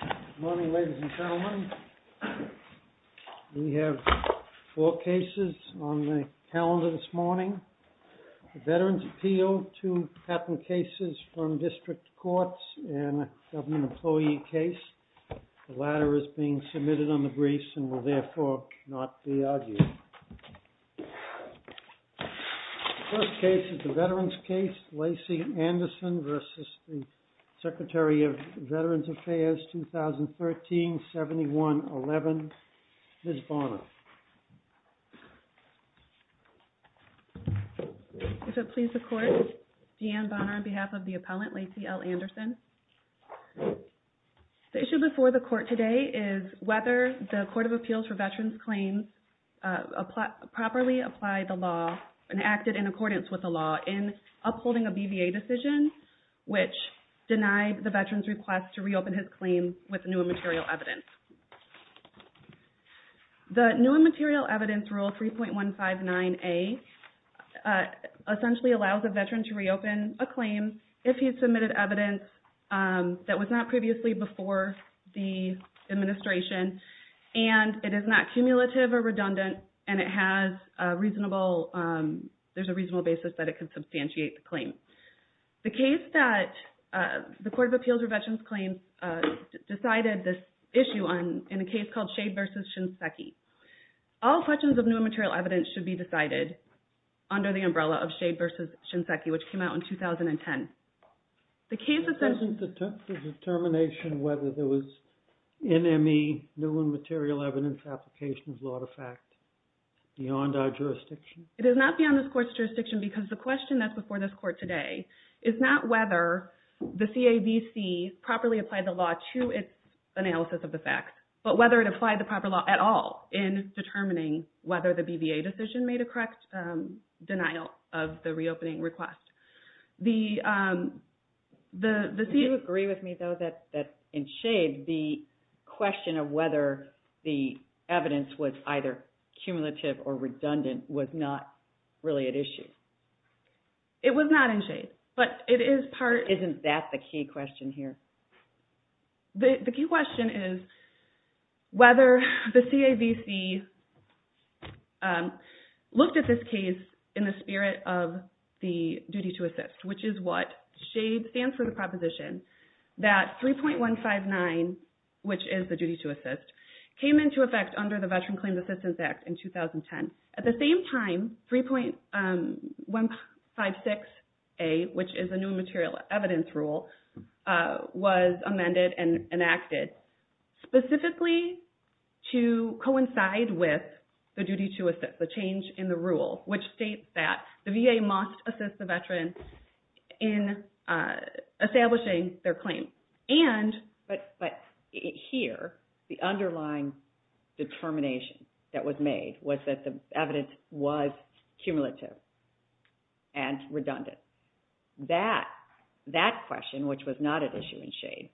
Good morning, ladies and gentlemen. We have four cases on the calendar this morning. The Veterans' Appeal, two patent cases from district courts, and a government employee case. The latter is being submitted on the briefs and will therefore not be argued. The first case is the Veterans' Case, Lacey Anderson v. Justice, the Secretary of Veterans Affairs, 2013-71-11. Ms. Bonner. If it pleases the Court, Deanne Bonner on behalf of the appellant, Lacey L. Anderson. The issue before the Court today is whether the Court of Appeals for Veterans' Claims properly applied the law and acted in accordance with the law in upholding a BVA decision, which denied the veteran's request to reopen his claim with new and material evidence. The new and material evidence rule 3.159A essentially allows a veteran to reopen a claim if he had submitted evidence that was not previously before the administration, and it is not cumulative or redundant, and there's a reasonable basis that it can substantiate the claim. The Court of Appeals for Veterans' Claims decided this issue in a case called Shade v. Shinseki. All questions of new and material evidence should be decided under the umbrella of Shade v. Shinseki, which came out in 2010. Isn't the determination whether there was NME, new and material evidence, application of law to fact beyond our jurisdiction? It is not beyond this Court's jurisdiction because the question that's before this Court today is not whether the CAVC properly applied the law to its analysis of the facts, but whether it applied the proper law at all in determining whether the BVA decision made a correct denial of the reopening request. Do you agree with me, though, that in Shade, the question of whether the evidence was either cumulative or redundant was not really at issue? It was not in Shade, but it is part of... Isn't that the key question here? The key question is whether the CAVC looked at this case in the spirit of the duty to assist, which is what Shade stands for, the proposition that 3.159, which is the duty to assist, came into effect under the Veterans Claims Assistance Act in 2010. At the same time, 3.156A, which is a new material evidence rule, was amended and enacted specifically to coincide with the duty to assist, the change in the rule, which states that the VA must assist the veteran in establishing their claim. But here, the underlying determination that was made was that the evidence was cumulative and redundant. That question, which was not at issue in Shade,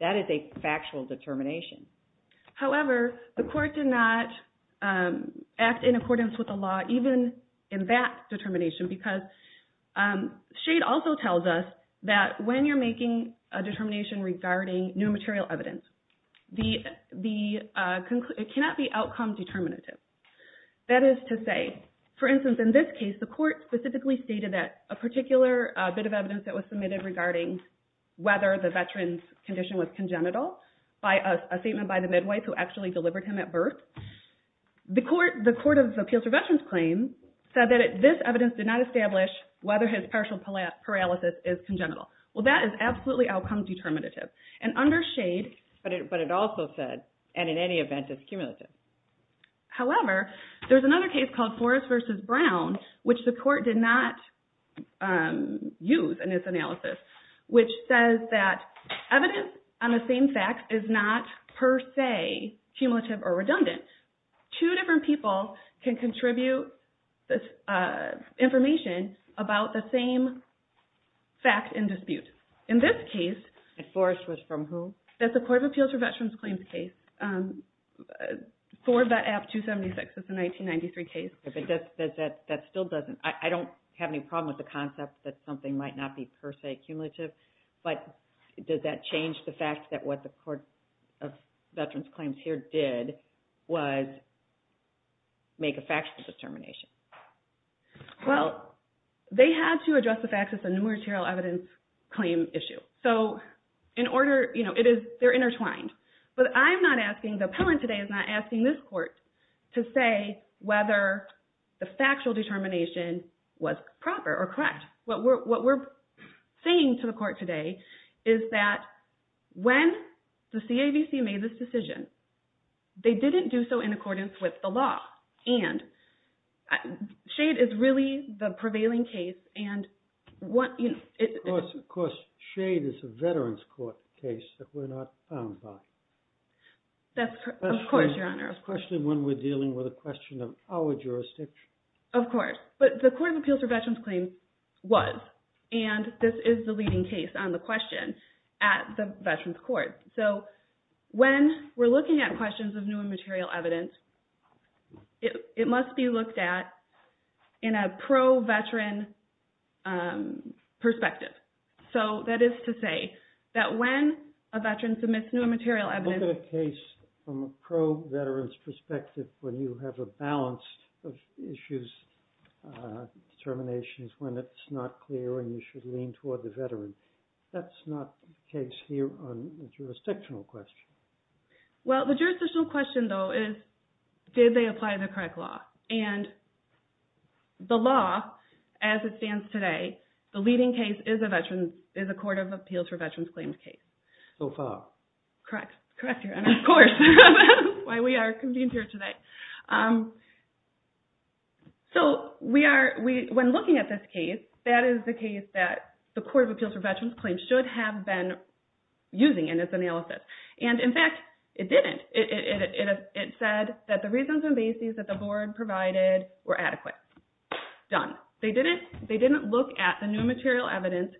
that is a factual determination. However, the court did not act in accordance with the law, even in that determination, because Shade also tells us that when you're making a determination regarding new material evidence, it cannot be outcome determinative. That is to say, for instance, in this case, the court specifically stated that a particular bit of evidence that was submitted regarding whether the veteran's condition was congenital, by a statement by the midwife who actually delivered him at birth. The Court of Appeals for Veterans Claims said that this evidence did not establish whether his partial paralysis is congenital. Well, that is absolutely outcome determinative. And under Shade, but it also said, and in any event, it's cumulative. However, there's another case called Forrest v. Brown, which the court did not use in its analysis, which says that evidence on the same fact is not, per se, cumulative or redundant. Two different people can contribute information about the same fact in dispute. In this case… And Forrest was from who? That's the Court of Appeals for Veterans Claims case, for Vet App 276. It's a 1993 case. That still doesn't… I don't have any problem with the concept that something might not be, per se, cumulative, but does that change the fact that what the Court of Veterans Claims here did was make a factual determination? Well, they had to address the fact that it's a numeratorial evidence claim issue. So, in order… You know, it is… They're intertwined. But I'm not asking… The appellant today is not asking this court to say whether the factual determination was proper or correct. What we're saying to the court today is that when the CAVC made this decision, they didn't do so in accordance with the law. And Shade is really the prevailing case, and what… Of course, Shade is a Veterans Court case that we're not bound by. Of course, Your Honor. That's the question when we're dealing with a question of our jurisdiction. Of course. But the Court of Appeals for Veterans Claims was, and this is the leading case on the question at the Veterans Court. So, when we're looking at questions of numeratorial evidence, it must be looked at in a pro-veteran perspective. So, that is to say that when a veteran submits numeratorial evidence… Look at a case from a pro-veteran's perspective when you have a balance of issues, determinations, when it's not clear and you should lean toward the veteran. That's not the case here on the jurisdictional question. Well, the jurisdictional question, though, is did they apply the correct law? And the law, as it stands today, the leading case is a Court of Appeals for Veterans Claims case. So far. Correct. Correct, Your Honor. Of course. That's why we are convened here today. So, when looking at this case, that is the case that the Court of Appeals for Veterans Claims should have been using in its analysis. And, in fact, it didn't. It said that the reasons and basis that the Board provided were adequate. Done. They didn't look at the numeratorial evidence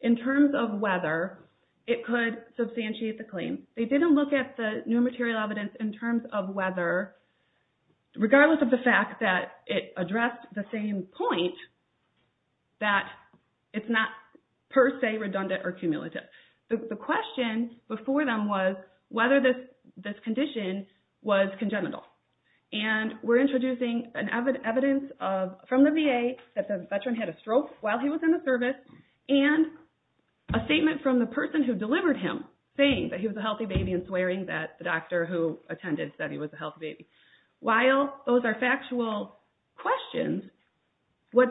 in terms of whether it could substantiate the claim. They didn't look at the numeratorial evidence in terms of whether, regardless of the fact that it addressed the same point, that it's not per se redundant or cumulative. The question before them was whether this condition was congenital. And we're introducing evidence from the VA that the veteran had a stroke while he was in the service and a statement from the person who delivered him saying that he was a healthy baby and swearing that the doctor who attended said he was a healthy baby. While those are factual questions, what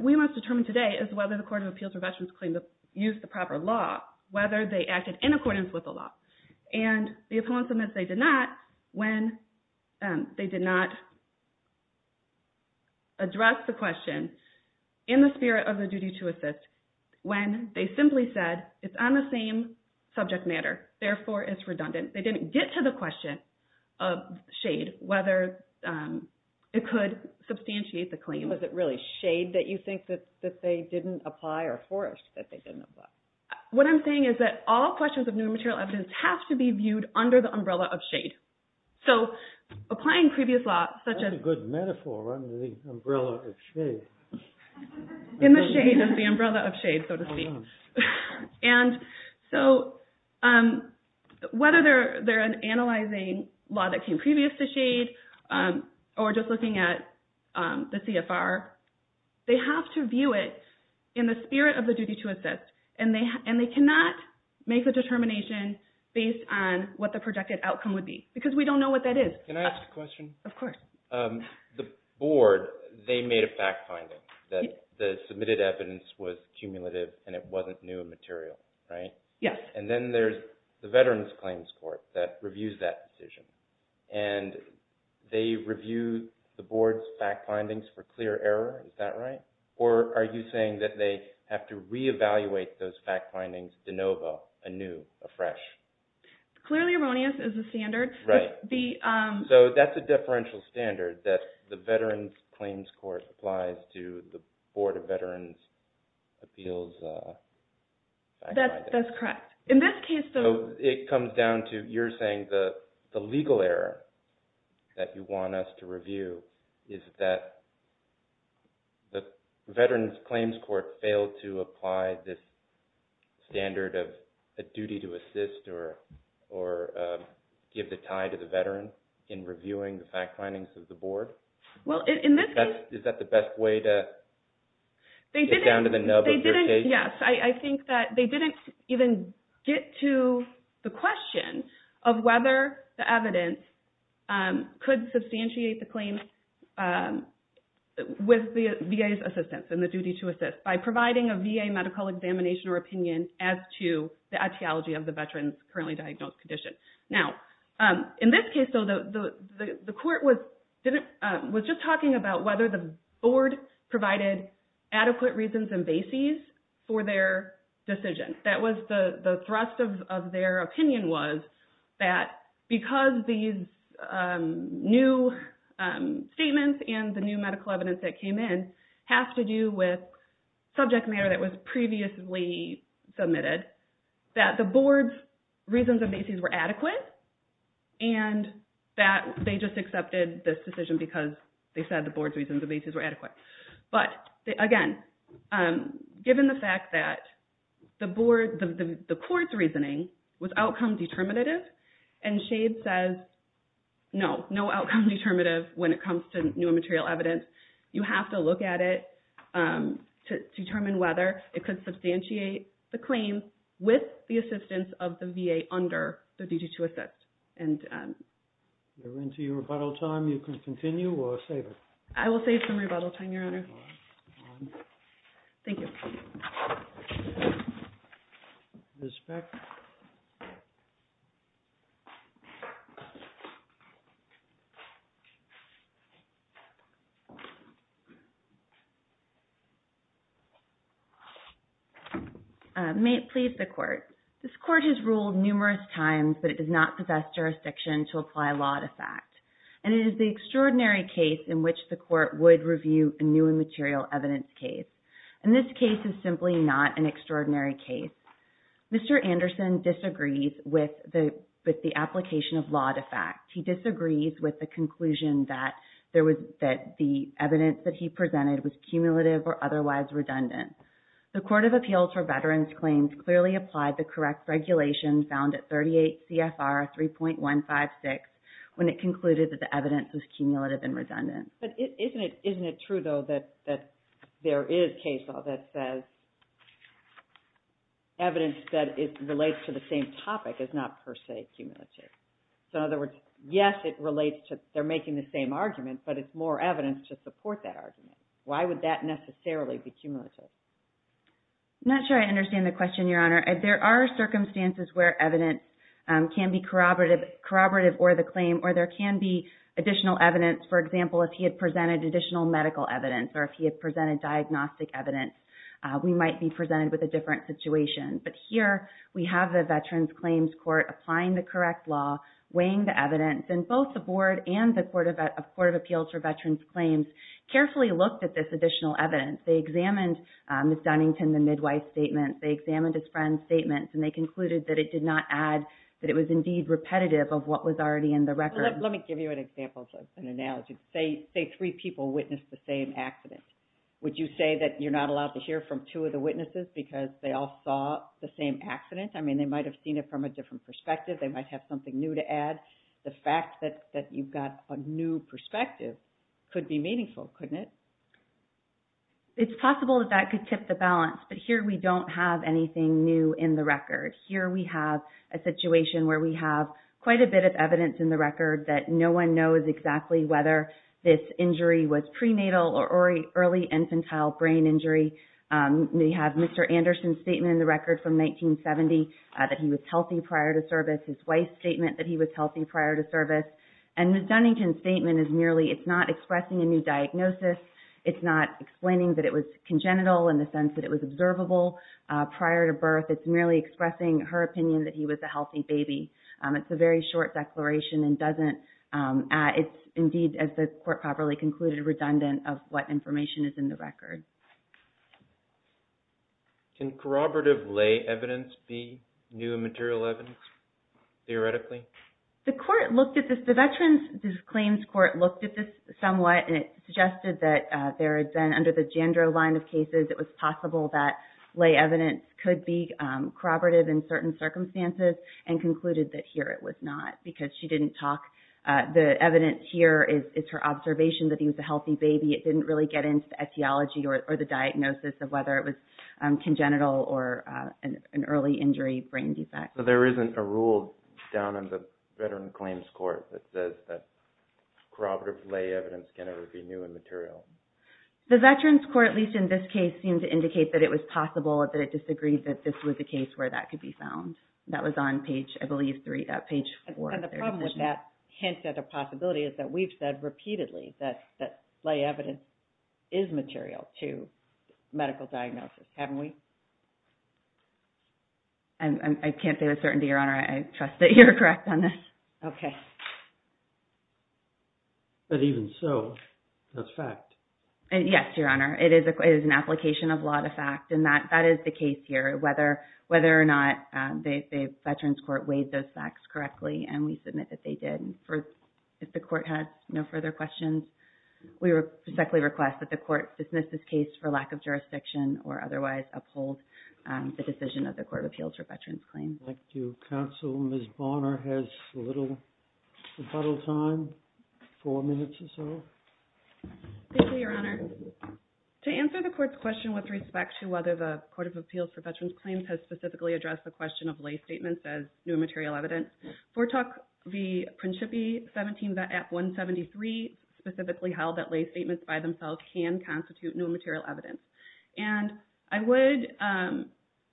we must determine today is whether the Court of Appeals for Veterans Claims used the proper law, whether they acted in accordance with the law. And the opponents admit they did not when they did not address the question in the spirit of the duty to assist, when they simply said, it's on the same subject matter, therefore it's redundant. They didn't get to the question of shade, whether it could substantiate the claim. Was it really shade that you think that they didn't apply or forest that they didn't apply? What I'm saying is that all questions of numeratorial evidence have to be viewed under the umbrella of shade. That's a good metaphor, under the umbrella of shade. In the shade of the umbrella of shade, so to speak. And so whether they're analyzing law that came previous to shade or just looking at the CFR, they have to view it in the spirit of the duty to assist. And they cannot make a determination based on what the projected outcome would be, because we don't know what that is. Can I ask a question? Of course. The board, they made a fact finding that the submitted evidence was cumulative and it wasn't new material, right? Yes. And then there's the Veterans Claims Court that reviews that decision. And they review the board's fact findings for clear error. Is that right? Or are you saying that they have to reevaluate those fact findings de novo, anew, afresh? Clearly erroneous is the standard. Right. So that's a differential standard that the Veterans Claims Court applies to the Board of Veterans' Appeals. That's correct. In this case, though, it comes down to you're saying the legal error that you want us to review is that the Veterans Claims Court failed to apply this standard of a duty to assist or give the tie to the veteran in reviewing the fact findings of the board? Is that the best way to get down to the nub of your case? Yes. I think that they didn't even get to the question of whether the evidence could substantiate the claim with the VA's assistance and the duty to assist by providing a VA medical examination or opinion as to the ideology of the veteran's currently diagnosed condition. Now, in this case, though, the court was just talking about whether the board provided adequate reasons and bases for their decision. The thrust of their opinion was that because these new statements and the new medical evidence that came in have to do with subject matter that was previously submitted, that the board's reasons and bases were adequate and that they just accepted this decision because they said the board's reasons and bases were adequate. But again, given the fact that the board, the court's reasoning was outcome determinative and Shade says no, no outcome determinative when it comes to new material evidence. You have to look at it to determine whether it could substantiate the claim with the assistance of the VA under the duty to assist. We're into your rebuttal time. You can continue or save it. I will save some rebuttal time, Your Honor. Thank you. Ms. Speck. May it please the court. This court has ruled numerous times that it does not possess jurisdiction to apply law to fact. And it is the extraordinary case in which the court would review a new material evidence case. And this case is simply not an extraordinary case. Mr. Anderson disagrees with the application of law to fact. He disagrees with the conclusion that the evidence that he presented was cumulative or otherwise redundant. The Court of Appeals for Veterans Claims clearly applied the correct regulation found at 38 CFR 3.156 when it concluded that the evidence was cumulative and redundant. But isn't it true, though, that there is case law that says evidence that relates to the same topic is not per se cumulative? So, in other words, yes, it relates to they're making the same argument, but it's more evidence to support that argument. Why would that necessarily be cumulative? I'm not sure I understand the question, Your Honor. There are circumstances where evidence can be corroborative or the claim, or there can be additional evidence. For example, if he had presented additional medical evidence or if he had presented diagnostic evidence, we might be presented with a different situation. But here we have the Veterans Claims Court applying the correct law, weighing the evidence, and both the Board and the Court of Appeals for Veterans Claims carefully looked at this additional evidence. They examined Ms. Dunnington, the midwife statement. They examined his friend's statements, and they concluded that it did not add, that it was indeed repetitive of what was already in the record. Let me give you an example, an analogy. Say three people witnessed the same accident. Would you say that you're not allowed to hear from two of the witnesses because they all saw the same accident? I mean, they might have seen it from a different perspective. They might have something new to add. The fact that you've got a new perspective could be meaningful, couldn't it? It's possible that that could tip the balance, but here we don't have anything new in the record. Here we have a situation where we have quite a bit of evidence in the record that no one knows exactly whether this injury was prenatal or early infantile brain injury. We have Mr. Anderson's statement in the record from 1970 that he was healthy prior to service, his wife's statement that he was healthy prior to service. And Ms. Dunnington's statement is merely it's not expressing a new diagnosis. It's not explaining that it was congenital in the sense that it was observable prior to birth. It's merely expressing her opinion that he was a healthy baby. It's a very short declaration and doesn't, it's indeed, as the court properly concluded, redundant of what information is in the record. Can corroborative lay evidence be new and material evidence, theoretically? The court looked at this, the Veterans Claims Court looked at this somewhat, and it suggested that there had been, under the Jandro line of cases, it was possible that lay evidence could be corroborative in certain circumstances and concluded that here it was not because she didn't talk. The evidence here is her observation that he was a healthy baby. It didn't really get into the etiology or the diagnosis of whether it was congenital or an early injury brain defect. There isn't a rule down in the Veterans Claims Court that says that corroborative lay evidence can never be new and material. The Veterans Court, at least in this case, seemed to indicate that it was possible that it disagreed that this was the case where that could be found. That was on page, I believe, three, not page four. And the problem with that hint at a possibility is that we've said repeatedly that lay evidence is material to medical diagnosis, haven't we? I can't say with certainty, Your Honor. I trust that you're correct on this. Okay. But even so, that's fact. Yes, Your Honor. It is an application of law to fact, and that is the case here. Whether or not the Veterans Court weighed those facts correctly, and we submit that they did. If the court has no further questions, we respectfully request that the court dismiss this case for lack of jurisdiction or otherwise uphold the decision of the Court of Appeals for Veterans Claims. Thank you, counsel. Ms. Bonner has a little rebuttal time, four minutes or so. Thank you, Your Honor. To answer the court's question with respect to whether the Court of Appeals for Veterans Claims has specifically addressed the question of lay statements as new and material evidence, Fortock v. Principi, 17.173, specifically held that lay statements by themselves can constitute new and material evidence. And I would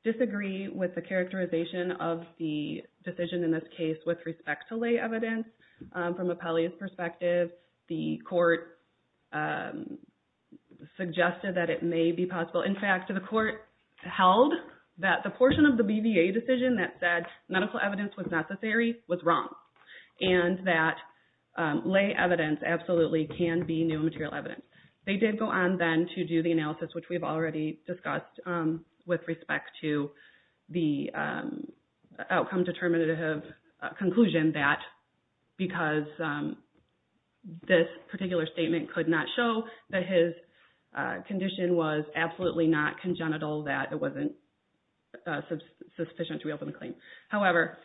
disagree with the characterization of the decision in this case with respect to lay evidence. From Appellee's perspective, the court suggested that it may be possible. In fact, the court held that the portion of the BVA decision that said medical evidence was necessary was wrong, and that lay evidence absolutely can be new and material evidence. They did go on then to do the analysis, which we've already discussed, with respect to the outcome determinative conclusion that because this particular statement could not show that his condition was absolutely not congenital, that it wasn't sufficient to reopen the claim. However,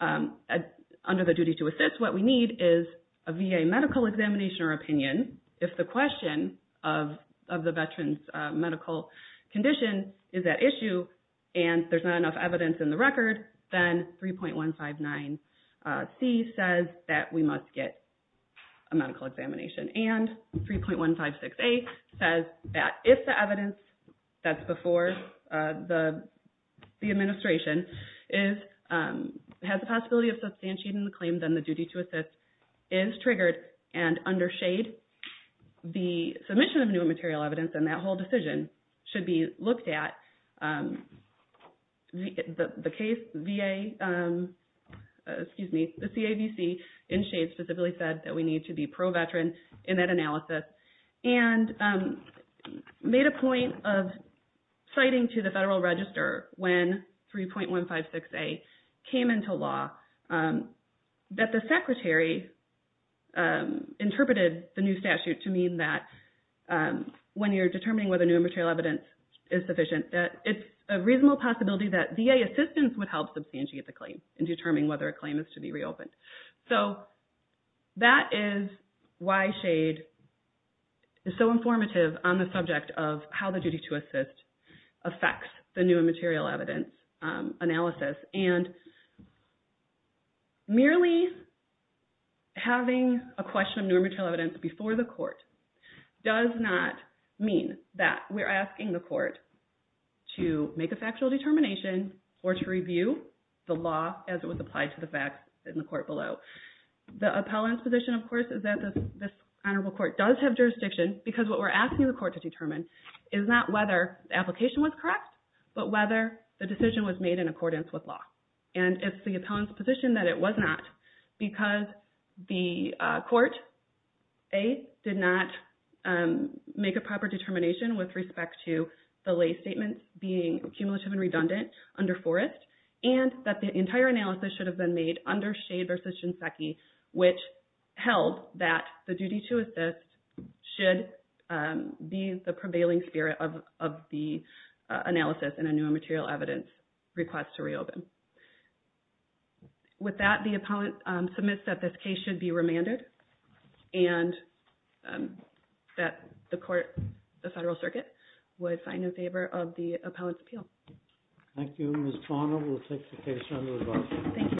under the duty to assist, what we need is a VA medical examination or opinion if the question of the veteran's medical condition is at issue and there's not enough evidence in the record, then 3.159C says that we must get a medical examination. And 3.156A says that if the evidence that's before the administration has the possibility of substantiating the claim, then the duty to assist is triggered, and under Shade, the submission of new and material evidence and that whole decision should be looked at. The case VA, excuse me, the CAVC in Shade specifically said that we need to be pro-veteran in that analysis and made a point of citing to the VA interpreted the new statute to mean that when you're determining whether new and material evidence is sufficient, that it's a reasonable possibility that VA assistance would help substantiate the claim in determining whether a claim is to be reopened. So that is why Shade is so informative on the subject of how the duty to assist affects the new and material evidence analysis. And merely having a question of new and material evidence before the court does not mean that we're asking the court to make a factual determination or to review the law as it was applied to the facts in the court below. The appellant's position, of course, is that this honorable court does have jurisdiction because what we're asking the court to determine is not whether the application was correct, but whether the decision was made in accordance with law. And it's the appellant's position that it was not because the court, A, did not make a proper determination with respect to the lay statements being cumulative and redundant under Forrest and that the entire analysis should have been made under Shade versus Shinseki, which held that the duty to assist should be the prevailing spirit of the analysis in a new and material evidence request to reopen. With that, the appellant submits that this case should be remanded and that the court, the Federal Circuit, would sign in favor of the appellant's appeal. Thank you. Ms. Parnell will take the case under review. Thank you.